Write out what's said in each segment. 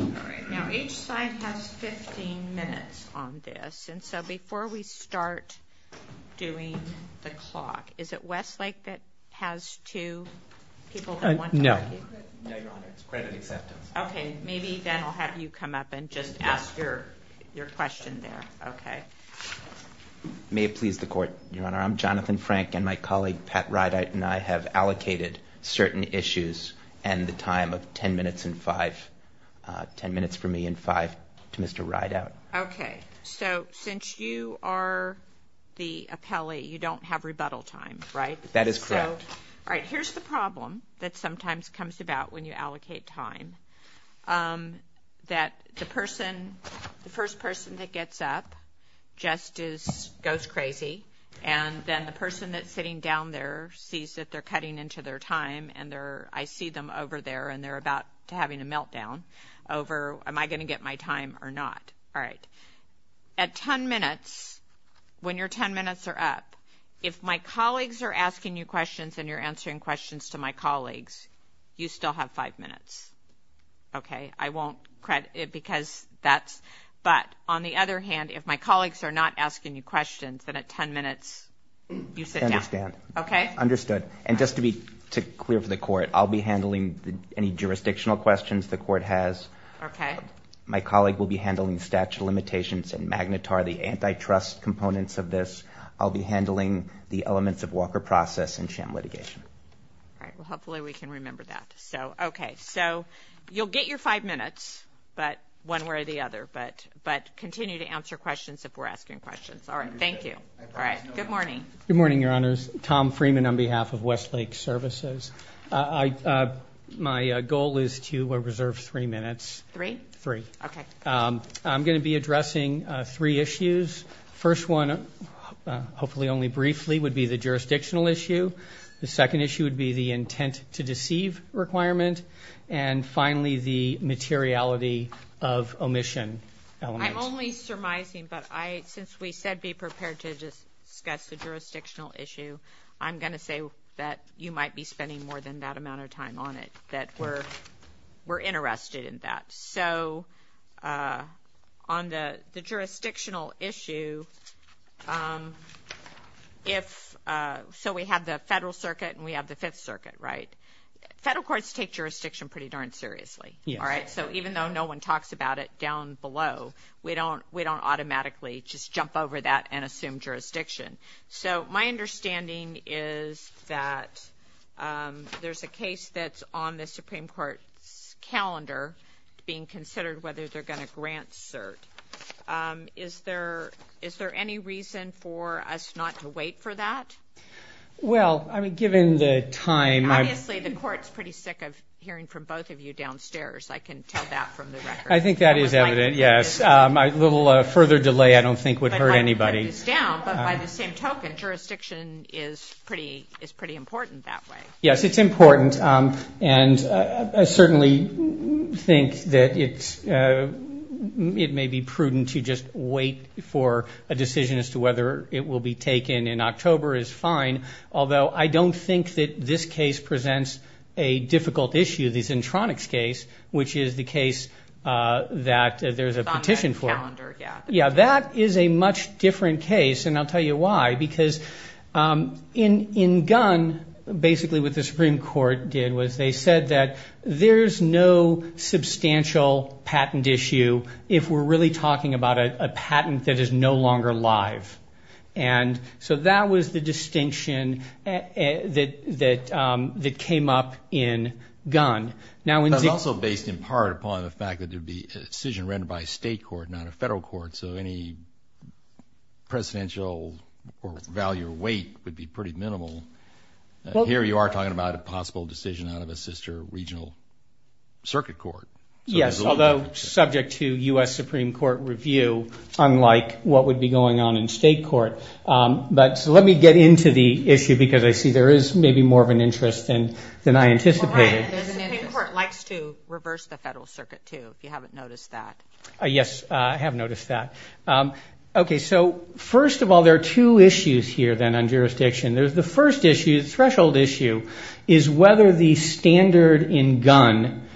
All right, now each side has 15 minutes on this and so before we start doing the clock, is it Westlake that has two people? No. Okay, maybe then I'll have you come up and just ask your question there. Okay. May it please the Court, Your Honor, I'm Jonathan Frank and my colleague Pat Rydite and I have allocated certain issues and the time of ten minutes and five, ten minutes for me and five to Mr. Rydite. Okay, so since you are the appellee, you don't have rebuttal time, right? That is correct. All right, here's the problem that sometimes comes about when you allocate time, that the person, the first person that gets up just goes crazy and then the person that's sitting down there sees that they're cutting into their time and I see them over there and they're about to having a meltdown over am I going to get my time or not. All right, at ten minutes, when your ten minutes are up, if my colleagues are asking you questions and you're answering questions to my colleagues, you still have five minutes. Okay, I won't credit it because that's, but on the other hand, if my colleagues are not asking you questions, then at ten minutes, you sit down. I understand, understood. And just to be clear for the court, I'll be handling any jurisdictional questions the court has. My colleague will be handling statute limitations and magnetar, the antitrust components of this. I'll be handling the elements of Walker process and sham litigation. All right, well, hopefully we can remember that. So, okay, so you'll get your five minutes, but one way or the other, but continue to Good morning, your honors. Tom Freeman on behalf of Westlake Services. My goal is to reserve three minutes. Three? Three. Okay. I'm going to be addressing three issues. First one, hopefully only briefly, would be the jurisdictional issue. The second issue would be the intent to deceive requirement. And finally, the materiality of omission. I'm only surmising, but I, since we said be prepared to discuss the jurisdictional issue, I'm going to say that you might be spending more than that amount of time on it, that we're interested in that. So on the jurisdictional issue, if, so we have the Federal Circuit and we have the Fifth Circuit, right? Federal courts take jurisdiction pretty darn seriously. All right? So even though no one talks about it down below, we don't, we don't automatically just jump over that and assume jurisdiction. So my understanding is that there's a case that's on the Supreme Court's calendar being considered, whether they're going to grant cert. Is there, is there any reason for us not to wait for that? Well, I mean, given the time, obviously the court's pretty sick of hearing from both of you downstairs. I can tell that from the record. I think that is evident, yes. A little further delay I don't think would hurt anybody. But by the same token, jurisdiction is pretty, is pretty important that way. Yes, it's important. And I certainly think that it's, it may be prudent to just wait for a decision as to whether it will be taken in October is fine. Although I don't think that this case presents a difficult issue. The Zentronics case, which is the case that there's a petition for. Yeah, that is a much different case. And I'll tell you why. Because in, in Gunn, basically what the Supreme Court did was they said that there's no substantial patent issue if we're really talking about a patent that is no longer live. And so that was the distinction that, that, that came up in Gunn. Now, it's also based in part upon the fact that there'd be a decision rendered by a state court, not a federal court. So any presidential value or weight would be pretty minimal. Here you are talking about a possible decision out of a sister regional circuit court. Yes. Although subject to U.S. Supreme Court review, unlike what would be going on in state court. But let me get into the issue because I see there is maybe more of an interest than, than I anticipated. The Supreme Court likes to reverse the federal circuit, too, if you haven't noticed that. Yes, I have noticed that. Okay. So first of all, there are two issues here then on jurisdiction. There's the first issue, the threshold issue, is whether the standard in Gunn,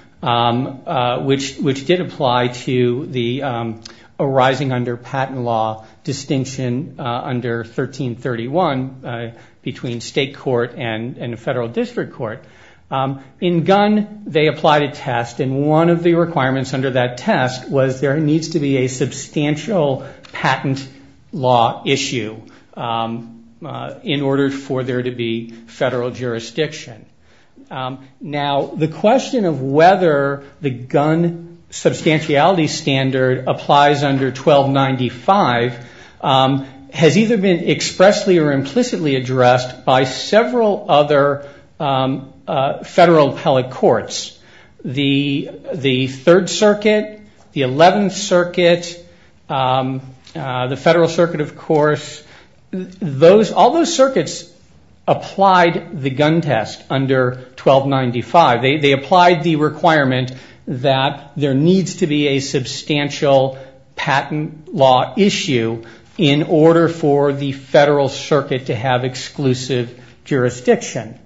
which, which did apply to the arising under patent law distinction under 1331 between state court and a federal district court. In Gunn, they applied a test and one of the requirements under that test was there needs to be a substantial patent law issue in order for to be federal jurisdiction. Now the question of whether the Gunn substantiality standard applies under 1295 has either been expressly or implicitly addressed by several other federal appellate courts. The, the third circuit, the 11th circuit, the federal circuit, of course, those, all those circuits applied the Gunn test under 1295. They, they applied the requirement that there needs to be a substantial patent law issue in order for the federal circuit to have exclusive jurisdiction.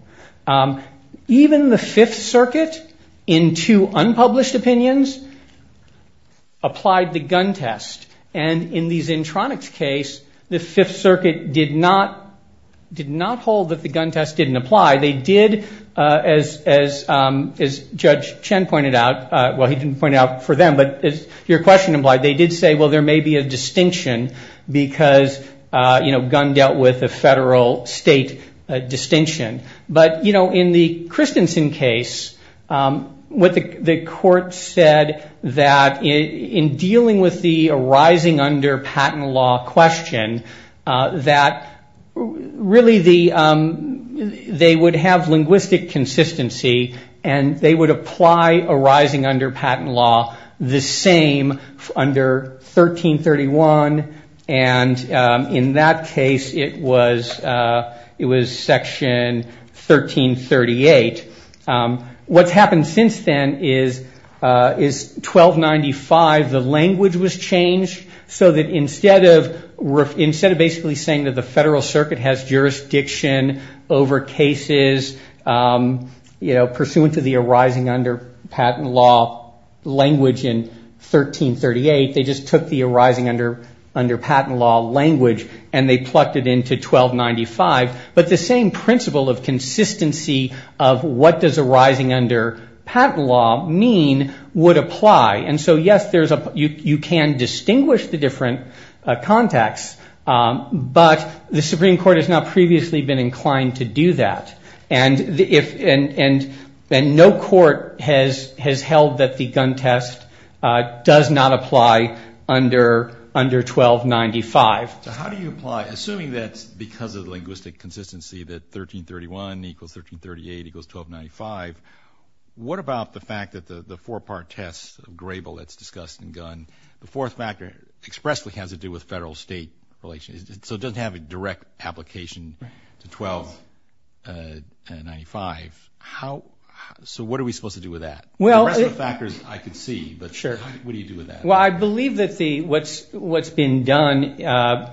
Even the Fifth Circuit, in two unpublished opinions, applied the Gunn test and in the Zentronics case, the Fifth Circuit did not hold that the Gunn test didn't apply. They did, as, as, as Judge Chen pointed out, well, he didn't point out for them, but as your question implied, they did say, well, there may be a distinction because, you know, Gunn dealt with a federal state distinction. But, you know, in the Christensen case, what the, the really the, they would have linguistic consistency and they would apply a rising under patent law the same under 1331 and in that case it was, it was section 1338. What's happened since then is, is 1295, the language was jurisdiction over cases, you know, pursuant to the arising under patent law language in 1338. They just took the arising under, under patent law language and they plucked it into 1295. But the same principle of consistency of what does arising under patent law mean would apply. And so, yes, there's a, you, you can distinguish the different contexts, but the Supreme Court has not previously been inclined to do that. And if, and, and no court has, has held that the Gunn test does not apply under, under 1295. So how do you apply, assuming that because of the linguistic consistency that 1331 equals 1338 equals 1295, what about the federal state relations? So it doesn't have a direct application to 1295. How, so what are we supposed to do with that? Well, the rest of the factors I could see, but what do you do with that? Well, I believe that the, what's, what's been done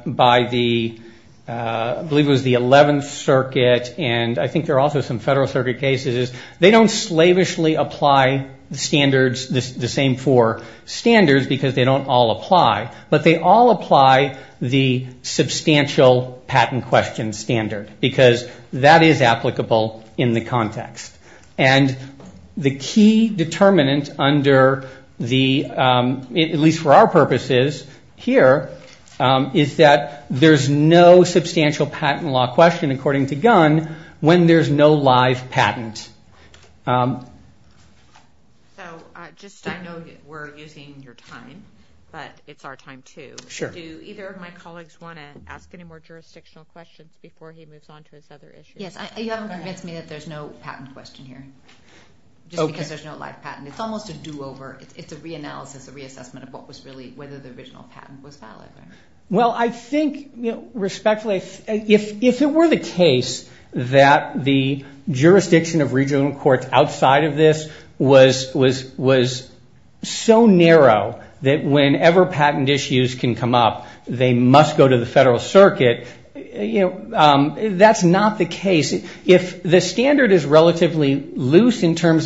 by the, I believe it was the 11th circuit and I think there are also some federal circuit cases, they don't slavishly apply the standards, the same four standards because they don't all apply. But they all apply the substantial patent question standard because that is applicable in the context. And the key determinant under the, at least for our purposes here, is that there's no substantial patent law question according to Gunn when there's no live patent. So, just, I know we're using your time, but it's our time too. Do either of my colleagues want to ask any more jurisdictional questions before he moves on to his other issues? Yes, you haven't convinced me that there's no patent question here. Just because there's no live patent. It's almost a do-over. It's a re-analysis, a reassessment of what was really, whether the original patent was valid. Well, I think, respectfully, if it were the case that the jurisdiction of regional courts outside of this was so narrow that whenever patent issues can come up, they must go to the federal circuit, you know, that's not the case. If the standard is relatively loose in your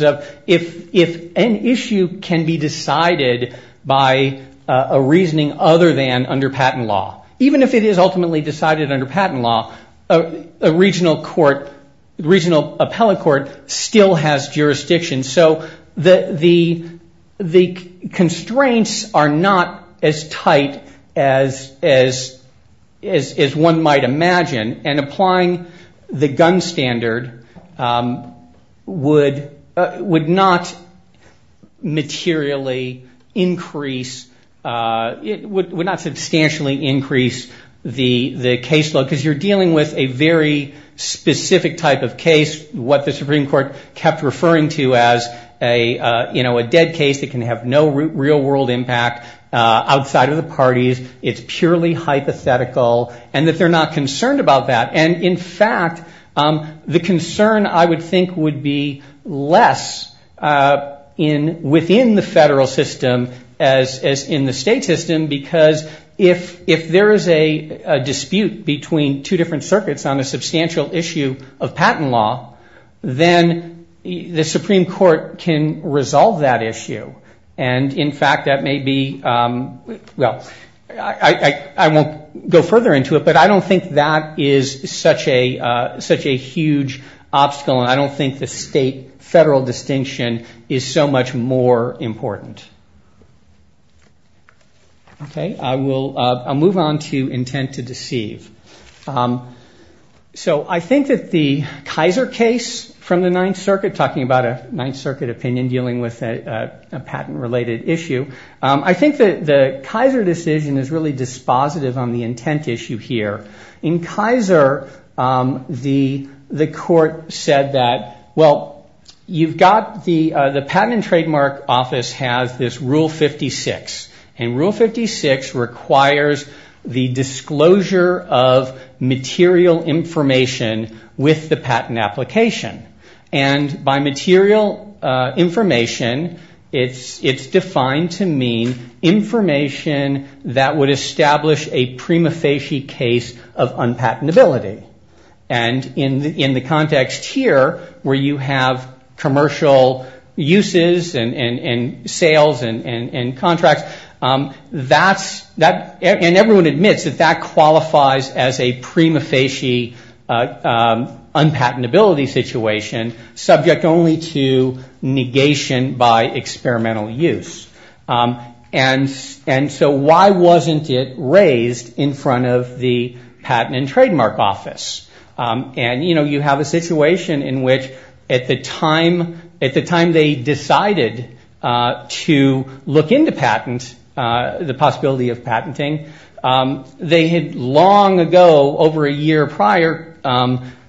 patent law, even if it is ultimately decided under patent law, a regional court, regional appellate court, still has jurisdiction. So, the constraints are not as tight as one might imagine, and applying the Gunn standard would not materially increase, would not you know, a dead case that can have no real-world impact outside of the parties. It's purely hypothetical, and that they're not concerned about that. And, in fact, the concern, I would think, would be less within the federal system as in the state system, because if there is a dispute between two different circuits on a substantial issue of patent law, then the Supreme Court can resolve that issue. And, in fact, that may be, well, I won't go further into it, but I don't think that is such a huge obstacle, and I don't think the state-federal distinction is so much more important. Okay, I'll move on to intent to deceive. So, I think that the Kaiser case from the Ninth Circuit, talking about a Ninth Circuit opinion dealing with a patent-related issue, I think that the Kaiser decision is really dispositive on the intent issue here. In Kaiser, the court said that, well, you've got the patent and trademark office has this Rule 56, and Rule 56 requires the disclosure of material information with the patent application. And, by material information, it's defined to mean information that would establish a prima facie case of unpatentability. And, in the context here, where you have commercial uses and sales and contracts, and everyone admits that that qualifies as a prima facie unpatentability situation, subject only to negation by At the time they decided to look into patent, the possibility of patenting, they had long ago, over a year prior,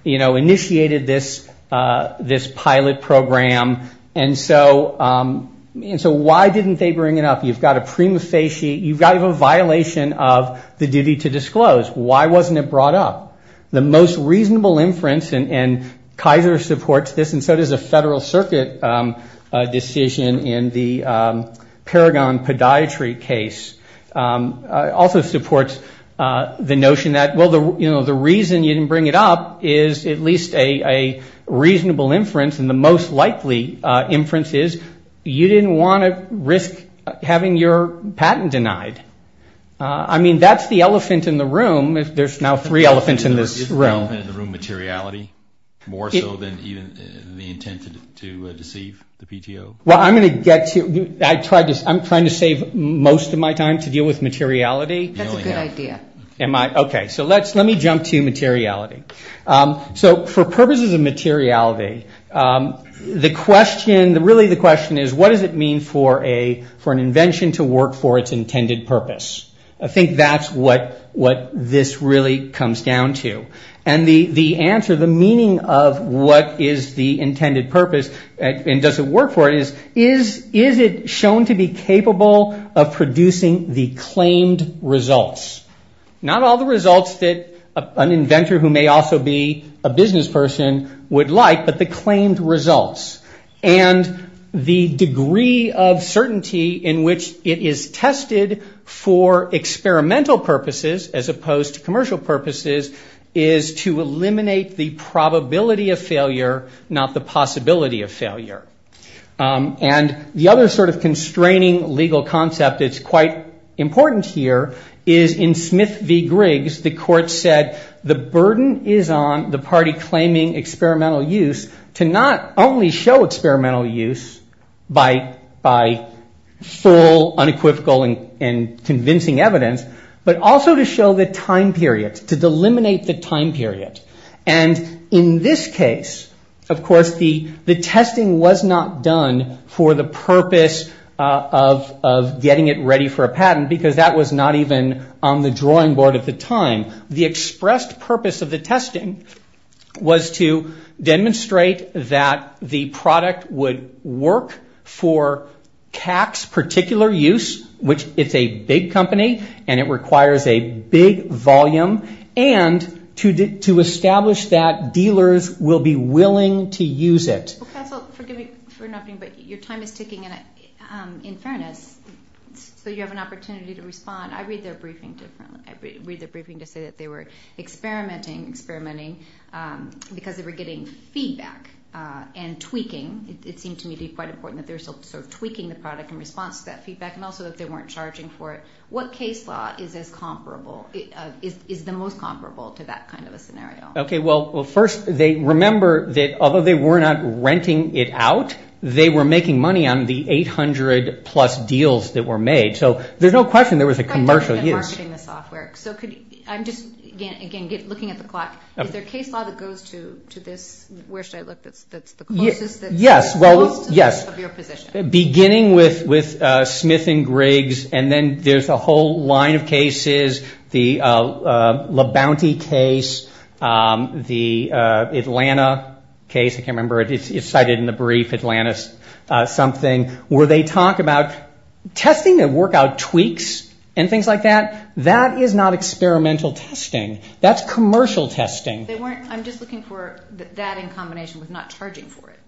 initiated this pilot program. And so, why didn't they bring it up? You've got a violation of the duty to disclose. Why wasn't it brought up? The most reasonable inference, and Kaiser supports this, and so does a Federal Circuit decision in the Paragon podiatry case, also supports the notion that, well, the reason you didn't bring it up is at least a reasonable inference, and the most likely inference is you didn't want to risk having your patent denied. I mean, that's the elephant in the room. There's now three elephants in this room. Is the elephant in the room materiality, more so than even the intent to deceive the PTO? Well, I'm going to get to, I'm trying to save most of my time to deal with materiality. That's a good idea. Okay, so let me jump to materiality. So, for purposes of materiality, the question, really the question is, what does it mean for an invention to work for its intended purpose? I think that's what this really comes down to. And the answer, the meaning of what is the intended purpose, and does it work for it, is, is it shown to be capable of producing the not all the results that an inventor, who may also be a business person, would like, but the claimed results. And the degree of certainty in which it is tested for experimental purposes, as opposed to commercial purposes, is to eliminate the probability of failure, not the possibility of failure. And the other sort of constraining legal concept that's quite important here is in Smith v. Griggs, the court said, the burden is on the party claiming experimental use to not only show experimental use by full, unequivocal, and convincing evidence, but also to show the time period, to delimit the time period. And in this case, of course, the testing was not done for the purpose of getting it ready for a patent, because that was not even on the drawing board at the time. The expressed purpose of the testing was to demonstrate that the product would work for CAC's particular use, which it's a big company, and it requires a big volume, and to establish that dealers will be willing to use it. Well, counsel, forgive me for interrupting, but your time is ticking, and in fairness, so you have an opportunity to respond. I read their briefing differently. I read their briefing to say that they were experimenting, experimenting, because they were getting feedback and tweaking. It seemed to me to be quite important that they were sort of tweaking the product in response to that feedback, and also that they weren't charging for it. What case law is the most comparable to that kind of a scenario? Okay, well, first, they remember that although they were not renting it out, they were making money on the 800-plus deals that were made. So there's no question there was a commercial use. I'm just, again, looking at the clock. Is there a case law that goes to this, where should I look, that's the closest that's close to your position? Beginning with Smith and Griggs, and then there's a whole line of cases, the Le Bounty case, the Atlanta case, I can't remember. It's cited in the brief, Atlanta something, where they talk about testing and work out tweaks and things like that. That is not experimental testing. That's commercial testing. I'm just looking for that in combination with not charging for it.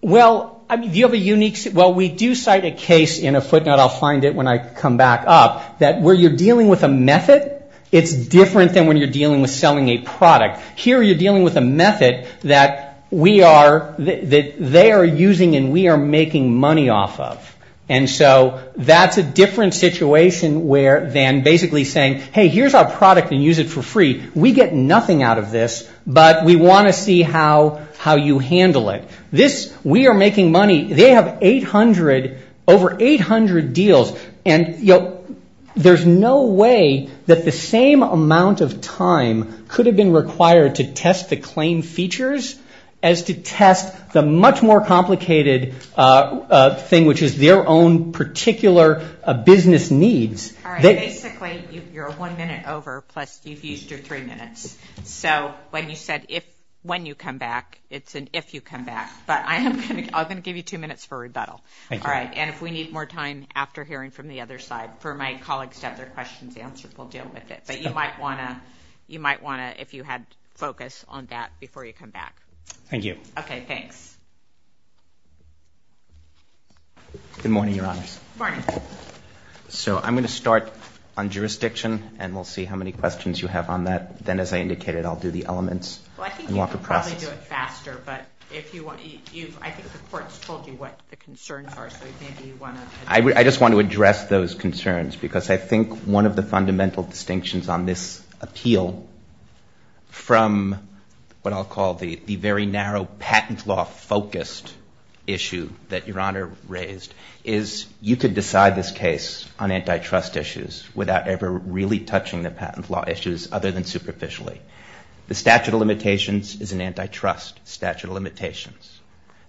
Well, do you have a unique, well, we do cite a case in a footnote, I'll find it when I come back up, that where you're dealing with a method, it's different than when you're dealing with selling a product. Here you're dealing with a method that we are, that they are using and we are making money off of. And so that's a different situation than basically saying, hey, here's our product and use it for free. We get nothing out of this, but we want to see how you handle it. This, we are making money, they have 800, over 800 deals. And there's no way that the same amount of time could have been required to test the claim features as to test the much more complicated thing, which is their own particular business needs. Basically, you're one minute over, plus you've used your three minutes. So when you said if, when you come back, it's an if you come back. But I'm going to give you two minutes for rebuttal. All right. And if we need more time after hearing from the other side for my colleagues to have their questions answered, we'll deal with it. But you might want to, you might want to, if you had focus on that before you come back. Thank you. Okay, thanks. Good morning, Your Honors. Morning. So I'm going to start on jurisdiction, and we'll see how many questions you have on that. Then, as I indicated, I'll do the elements. Well, I think you can probably do it faster, but if you want, you've, I think the court's told you what the concerns are, so maybe you want to. I just want to address those concerns, because I think one of the fundamental distinctions on this appeal, from what I'll call the very narrow patent law focused issue that Your Honor raised, is you could decide this case on antitrust issues without ever really touching the patent law issues other than superficially. The statute of limitations is an antitrust statute of limitations.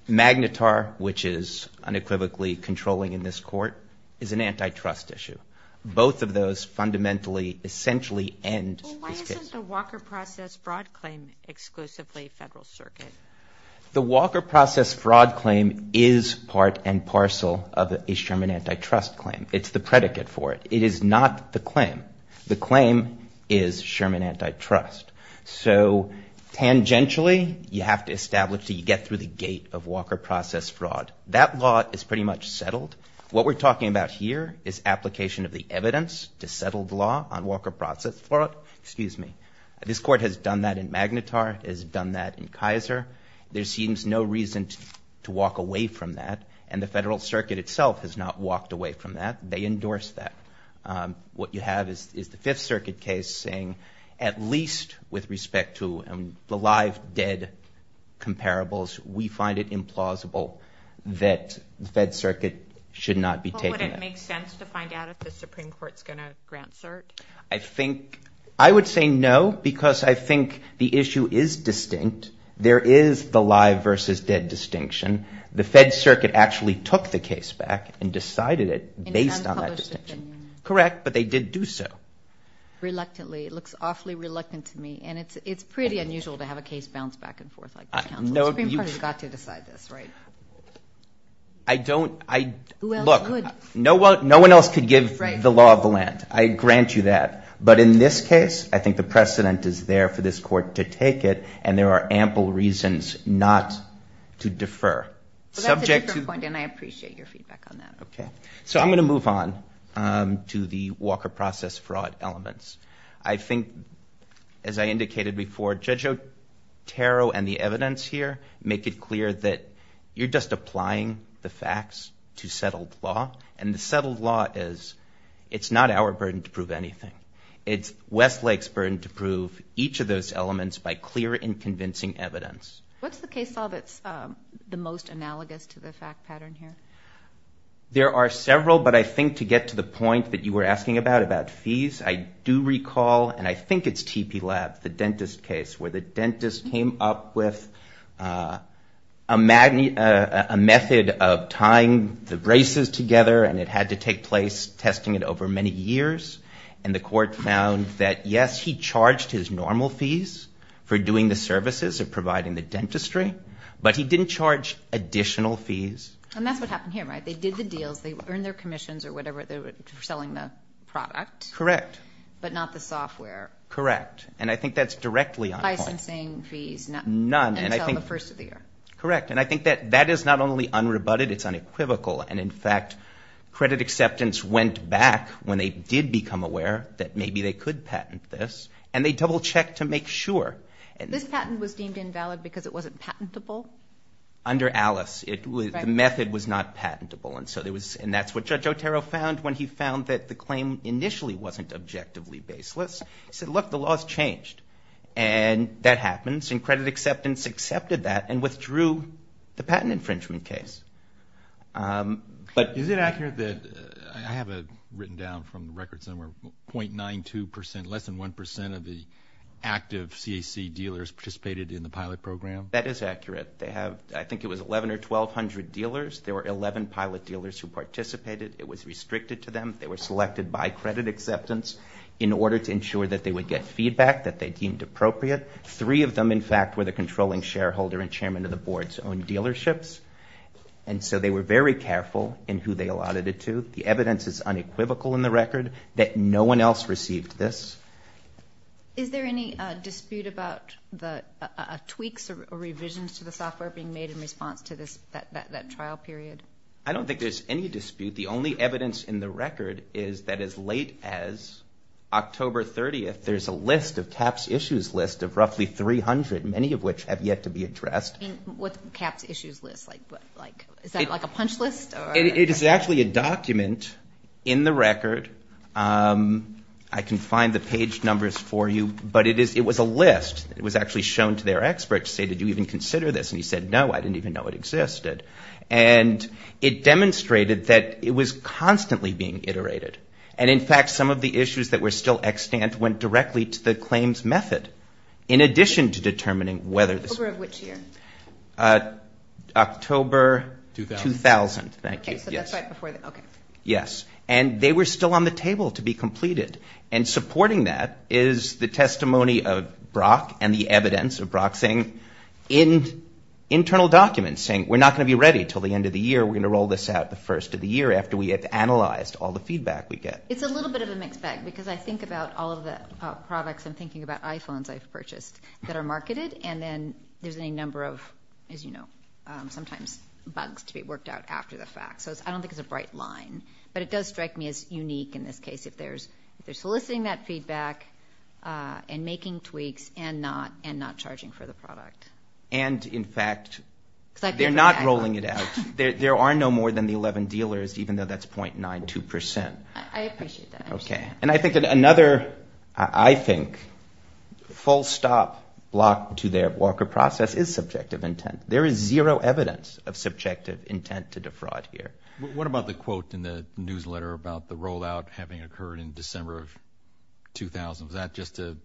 Magnetar, which is unequivocally controlling in this court, is an antitrust issue. Both of those fundamentally essentially end this case. Well, why isn't the Walker process fraud claim exclusively federal circuit? The Walker process fraud claim is part and parcel of a Sherman antitrust claim. It's the predicate for it. It is not the claim. The claim is Sherman antitrust. So tangentially, you have to establish that you get through the gate of Walker process fraud. That law is pretty much settled. What we're talking about here is application of the evidence to settle the law on Walker process fraud. Excuse me. This court has done that in Magnetar. It has done that in Kaiser. There seems no reason to walk away from that, and the federal circuit itself has not walked away from that. They endorse that. What you have is the Fifth Circuit case saying at least with respect to the live-dead comparables, we find it implausible that the Fed Circuit should not be taking that. Well, would it make sense to find out if the Supreme Court is going to grant cert? I think I would say no because I think the issue is distinct. There is the live versus dead distinction. The Fed Circuit actually took the case back and decided it based on that distinction. Correct, but they did do so. Reluctantly. It looks awfully reluctant to me, and it's pretty unusual to have a case bounce back and forth like that. The Supreme Court has got to decide this, right? I don't. Look, no one else could give the law of the land. I grant you that. But in this case, I think the precedent is there for this court to take it, and there are ample reasons not to defer. That's a different point, and I appreciate your feedback on that. Okay. So I'm going to move on to the Walker process fraud elements. I think, as I indicated before, Judge Otero and the evidence here make it clear that you're just applying the facts to settled law, and the settled law is it's not our burden to prove anything. It's Westlake's burden to prove each of those elements by clear and convincing evidence. What's the case law that's the most analogous to the fact pattern here? There are several, but I think to get to the point that you were asking about, about fees, I do recall, and I think it's TP Lab, the dentist case, where the dentist came up with a method of tying the braces together, and it had to take place, testing it over many years, and the court found that, yes, he charged his normal fees for doing the services of providing the dentistry, but he didn't charge additional fees. And that's what happened here, right? They did the deals. They earned their commissions or whatever they were selling the product. Correct. But not the software. Correct. And I think that's directly on point. Licensing fees. None. Until the first of the year. Correct. And I think that that is not only unrebutted, it's unequivocal. And, in fact, credit acceptance went back when they did become aware that maybe they could patent this, and they double-checked to make sure. This patent was deemed invalid because it wasn't patentable? Under Alice, the method was not patentable, and that's what Judge Otero found when he found that the claim initially wasn't objectively baseless. He said, look, the law has changed, and that happens, and credit acceptance accepted that and withdrew the patent infringement case. Is it accurate that I have it written down from the records somewhere, .92%, less than 1% of the active CAC dealers participated in the pilot program? That is accurate. I think it was 11 or 1,200 dealers. There were 11 pilot dealers who participated. It was restricted to them. They were selected by credit acceptance in order to ensure that they would get feedback that they deemed appropriate. Three of them, in fact, were the controlling shareholder and chairman of the board's own dealerships, and so they were very careful in who they allotted it to. The evidence is unequivocal in the record that no one else received this. Is there any dispute about tweaks or revisions to the software being made in response to that trial period? I don't think there's any dispute. The only evidence in the record is that as late as October 30th, there's a list of CAHPS issues list of roughly 300, many of which have yet to be addressed. What's CAHPS issues list? Is that like a punch list? It is actually a document in the record. I can find the page numbers for you, but it was a list. It was actually shown to their experts to say, did you even consider this? And he said, no, I didn't even know it existed. And it demonstrated that it was constantly being iterated. And, in fact, some of the issues that were still extant went directly to the claims method, in addition to determining whether this was. October of which year? October 2000. Thank you. Okay, so that's right before. Okay. Yes. And they were still on the table to be completed. And supporting that is the testimony of Brock and the evidence of Brock saying, in internal documents, saying we're not going to be ready until the end of the year. We're going to roll this out the first of the year after we have analyzed all the feedback we get. It's a little bit of a mixed bag because I think about all of the products and thinking about iPhones I've purchased that are marketed, and then there's a number of, as you know, sometimes bugs to be worked out after the fact. So I don't think it's a bright line. But it does strike me as unique in this case if they're soliciting that feedback and making tweaks and not charging for the product. And, in fact, they're not rolling it out. There are no more than the 11 dealers, even though that's 0.92%. I appreciate that. Okay. And I think another, I think, full stop block to their Walker process is subjective intent. There is zero evidence of subjective intent to defraud here. What about the quote in the newsletter about the rollout having occurred in December of 2000? Was that just a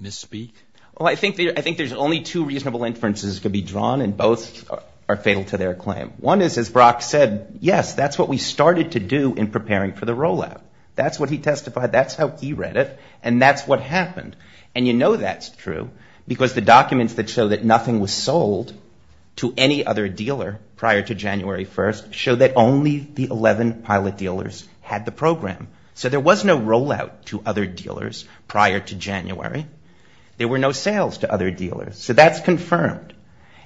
misspeak? Well, I think there's only two reasonable inferences to be drawn, and both are fatal to their claim. One is, as Brock said, yes, that's what we started to do in preparing for the rollout. That's what he testified. That's how he read it. And that's what happened. And you know that's true because the documents that show that nothing was sold to any other dealer prior to January 1st show that only the 11 pilot dealers had the program. So there was no rollout to other dealers prior to January. There were no sales to other dealers. So that's confirmed.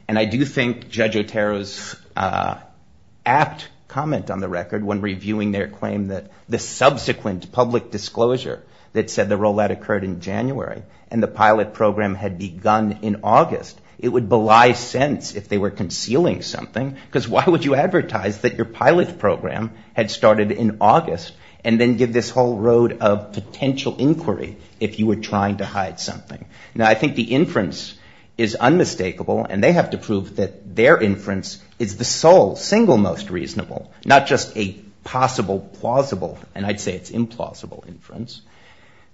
And I do think Judge Otero's apt comment on the record when reviewing their claim that the subsequent public disclosure that said the rollout occurred in January and the pilot program had begun in August, it would belie sense if they were concealing something because why would you advertise that your pilot program had started in August and then give this whole road of potential inquiry if you were trying to hide something? Now, I think the inference is unmistakable, and they have to prove that their inference is the sole, single most reasonable, not just a possible plausible, and I'd say it's implausible inference,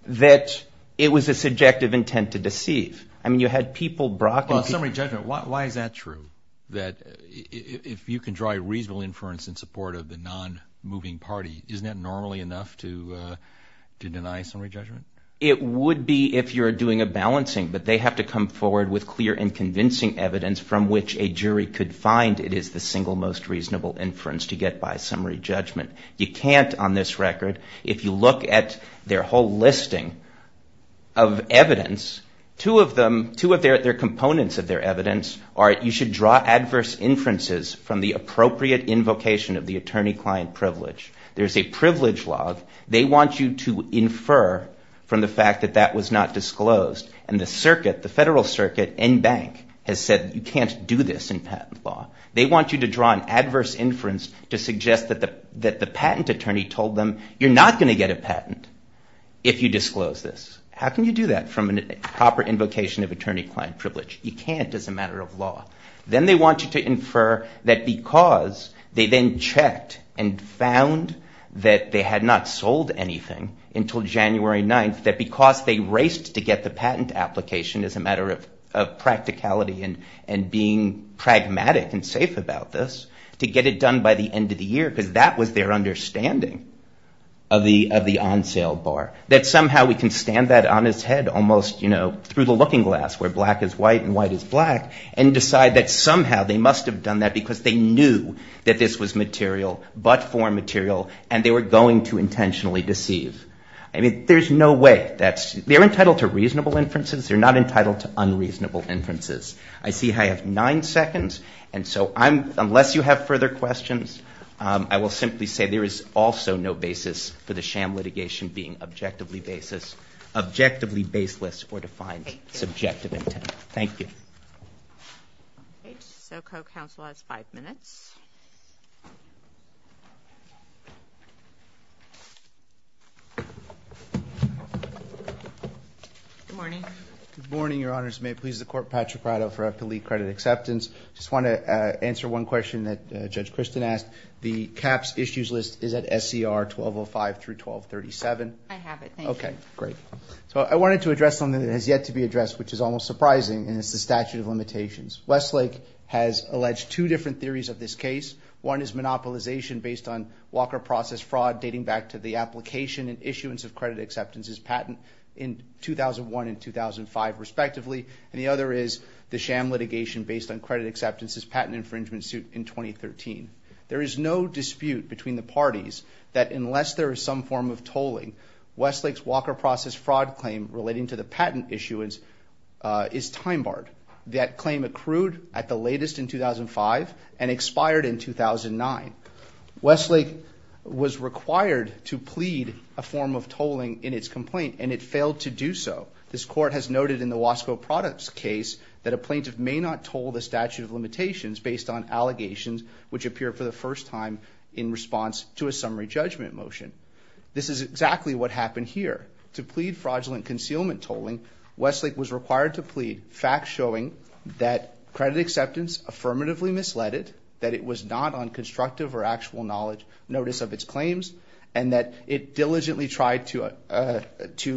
that it was a subjective intent to deceive. I mean you had people brought in. But on summary judgment, why is that true, that if you can draw a reasonable inference in support of the non-moving party, isn't that normally enough to deny summary judgment? It would be if you're doing a balancing, but they have to come forward with clear and convincing evidence from which a jury could find it is the single most reasonable inference to get by summary judgment. You can't on this record. If you look at their whole listing of evidence, two of their components of their evidence are you should draw adverse inferences from the appropriate invocation of the attorney-client privilege. There's a privilege log. They want you to infer from the fact that that was not disclosed, and the circuit, the federal circuit and bank has said you can't do this in patent law. They want you to draw an adverse inference to suggest that the patent attorney told them you're not going to get a patent if you disclose this. How can you do that from a proper invocation of attorney-client privilege? You can't as a matter of law. Then they want you to infer that because they then checked and found that they had not sold anything until January 9th, that because they raced to get the patent application as a matter of practicality and being pragmatic and safe about this to get it done by the end of the year because that was their understanding of the on-sale bar, that somehow we can stand that on its head almost through the looking glass where black is white and white is black and decide that somehow they must have done that because they knew that this was material but for material and they were going to intentionally deceive. I mean, there's no way. They're entitled to reasonable inferences. They're not entitled to unreasonable inferences. I see I have nine seconds. And so unless you have further questions, I will simply say there is also no basis for the sham litigation being objectively baseless or defined subjective intent. Thank you. Okay. So co-counsel has five minutes. Good morning. Good morning, Your Honors. May it please the Court, Patrick Prado for I have to leave credit acceptance. I just want to answer one question that Judge Kristen asked. The CAHPS issues list is at SCR 1205 through 1237. I have it. Thank you. Okay, great. So I wanted to address something that has yet to be addressed, which is almost surprising, and it's the statute of limitations. Westlake has alleged two different theories of this case. One is monopolization based on Walker process fraud dating back to the application and issuance of credit acceptances patent in 2001 and 2005, respectively. And the other is the sham litigation based on credit acceptances patent infringement suit in 2013. There is no dispute between the parties that unless there is some form of tolling, Westlake's Walker process fraud claim relating to the patent issuance is time-barred. That claim accrued at the latest in 2005 and expired in 2009. Westlake was required to plead a form of tolling in its complaint, and it failed to do so. This Court has noted in the Wasco products case that a plaintiff may not toll the statute of limitations based on allegations which appear for the first time in response to a summary judgment motion. This is exactly what happened here. To plead fraudulent concealment tolling, Westlake was required to plead facts showing that credit acceptance affirmatively misled it, that it was not on constructive or actual notice of its claims, and that it diligently tried to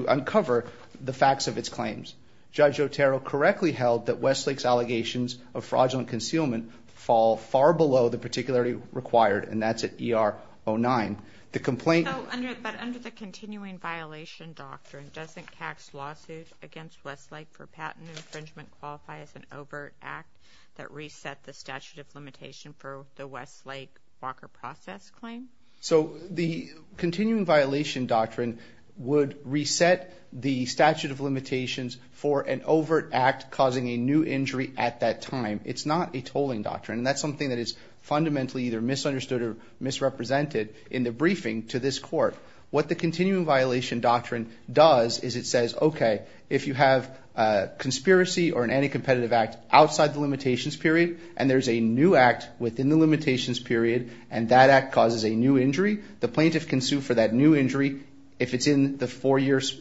uncover the facts of its claims. Judge Otero correctly held that Westlake's allegations of fraudulent concealment fall far below the particularity required, and that's at ER 09. But under the continuing violation doctrine, doesn't CAC's lawsuit against Westlake for patent infringement qualify as an overt act that reset the statute of limitation for the Westlake Walker process claim? So the continuing violation doctrine would reset the statute of limitations for an overt act causing a new injury at that time. It's not a tolling doctrine, and that's something that is fundamentally either misunderstood or misrepresented in the briefing to this court. What the continuing violation doctrine does is it says, okay, if you have a conspiracy or an anti-competitive act outside the limitations period, and there's a new act within the limitations period, and that act causes a new injury, the plaintiff can sue for that new injury if it's in the four years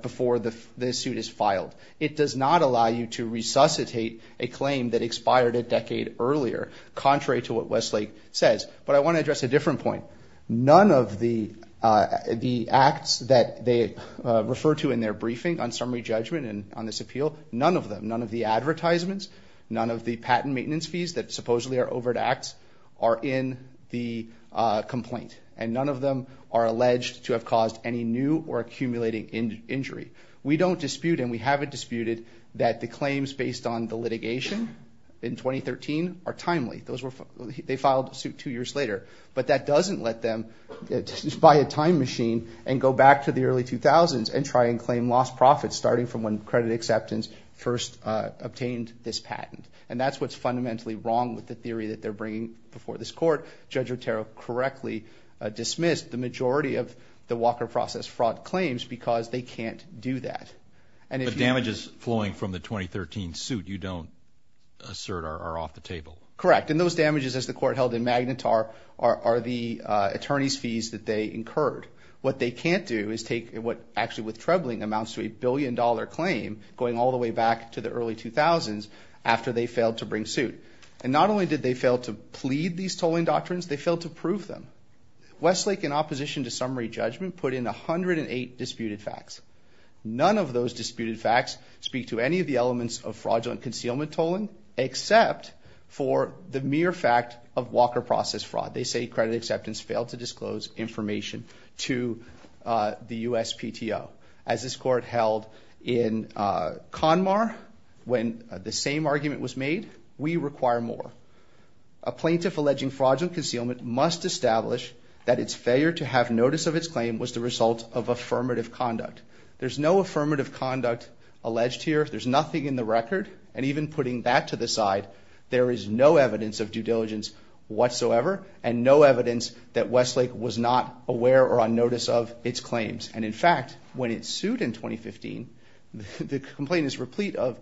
before the suit is filed. It does not allow you to resuscitate a claim that expired a decade earlier, contrary to what Westlake says. But I want to address a different point. None of the acts that they refer to in their briefing on summary judgment and on this appeal, none of them, none of the advertisements, none of the patent maintenance fees that supposedly are overt acts are in the complaint, and none of them are alleged to have caused any new or accumulating injury. We don't dispute, and we haven't disputed, that the claims based on the litigation in 2013 are timely. They filed a suit two years later. But that doesn't let them buy a time machine and go back to the early 2000s and try and claim lost profits starting from when credit acceptance first obtained this patent. And that's what's fundamentally wrong with the theory that they're bringing before this court. Judge Otero correctly dismissed the majority of the Walker process fraud claims because they can't do that. But damages flowing from the 2013 suit you don't assert are off the table. Correct, and those damages, as the court held in Magnitar, are the attorney's fees that they incurred. What they can't do is take what actually with Trebling amounts to a billion dollar claim going all the way back to the early 2000s after they failed to bring suit. And not only did they fail to plead these tolling doctrines, they failed to prove them. Westlake, in opposition to summary judgment, put in 108 disputed facts. None of those disputed facts speak to any of the elements of fraudulent concealment tolling except for the mere fact of Walker process fraud. They say credit acceptance failed to disclose information to the USPTO. As this court held in Conmar when the same argument was made, we require more. A plaintiff alleging fraudulent concealment must establish that its failure to have notice of its claim was the result of affirmative conduct. There's no affirmative conduct alleged here. There's nothing in the record. And even putting that to the side, there is no evidence of due diligence whatsoever and no evidence that Westlake was not aware or on notice of its claims. And in fact, when it sued in 2015, the complaint is replete of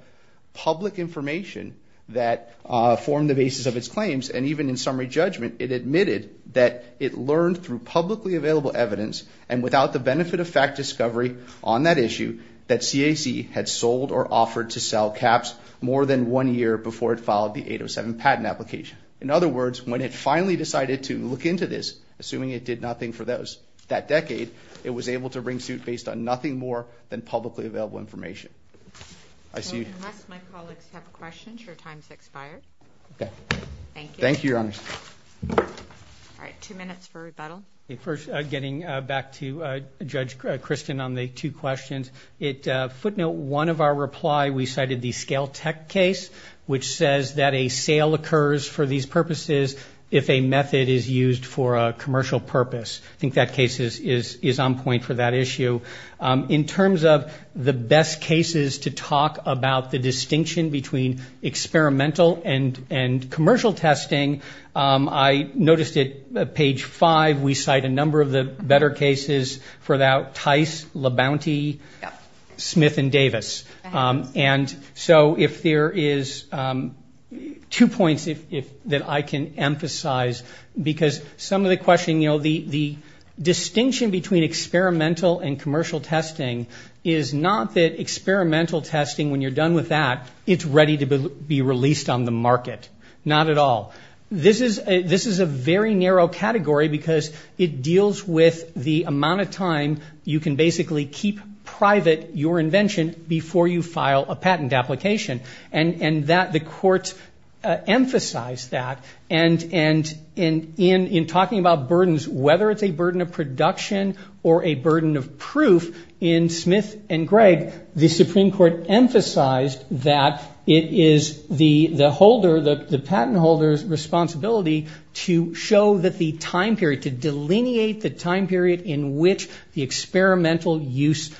public information that formed the basis of its claims. And even in summary judgment, it admitted that it learned through publicly available evidence and without the benefit of fact discovery on that issue that CAC had sold or offered to sell caps more than one year before it filed the 807 patent application. In other words, when it finally decided to look into this, assuming it did nothing for that decade, it was able to bring suit based on nothing more than publicly available information. Unless my colleagues have questions, your time has expired. Thank you. All right, two minutes for rebuttal. First, getting back to Judge Kristen on the two questions, at footnote one of our reply we cited the scale tech case, which says that a sale occurs for these purposes if a method is used for a commercial purpose. I think that case is on point for that issue. In terms of the best cases to talk about the distinction between experimental and commercial testing, I noticed at page five we cite a number of the better cases for that, Tice, La Bounty, Smith and Davis. And so if there is two points that I can emphasize, because some of the question, you know, the distinction between experimental and commercial testing is not that experimental testing, when you're done with that, it's ready to be released on the market. Not at all. This is a very narrow category because it deals with the amount of time you can basically keep private your invention before you file a patent application. And the courts emphasize that. And in talking about burdens, whether it's a burden of production or a burden of proof, in Smith and Gregg, the Supreme Court emphasized that it is the holder, the patent holder's responsibility to show that the time period, to delineate the time period in which the experimental use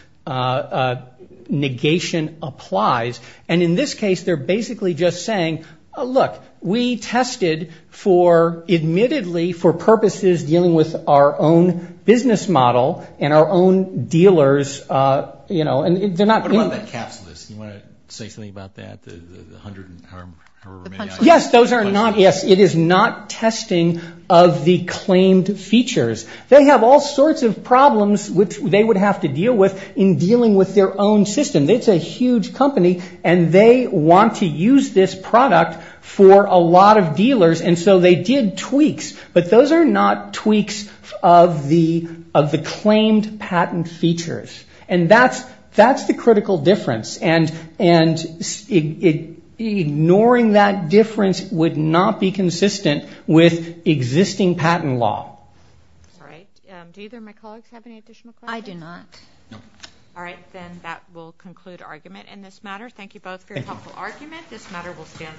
negation applies. And in this case, they're basically just saying, look, we tested for, admittedly, for purposes dealing with our own business model and our own dealers, you know, and they're not. What about that caps list? Do you want to say something about that, the hundred and however many items? Yes, those are not, yes, it is not testing of the claimed features. They have all sorts of problems which they would have to deal with in dealing with their own system. It's a huge company, and they want to use this product for a lot of dealers. And so they did tweaks, but those are not tweaks of the claimed patent features. And that's the critical difference. And ignoring that difference would not be consistent with existing patent law. All right. Do either of my colleagues have any additional questions? I do not. No. All right, then that will conclude argument in this matter. Thank you both for your helpful argument. This matter will stand adjourned.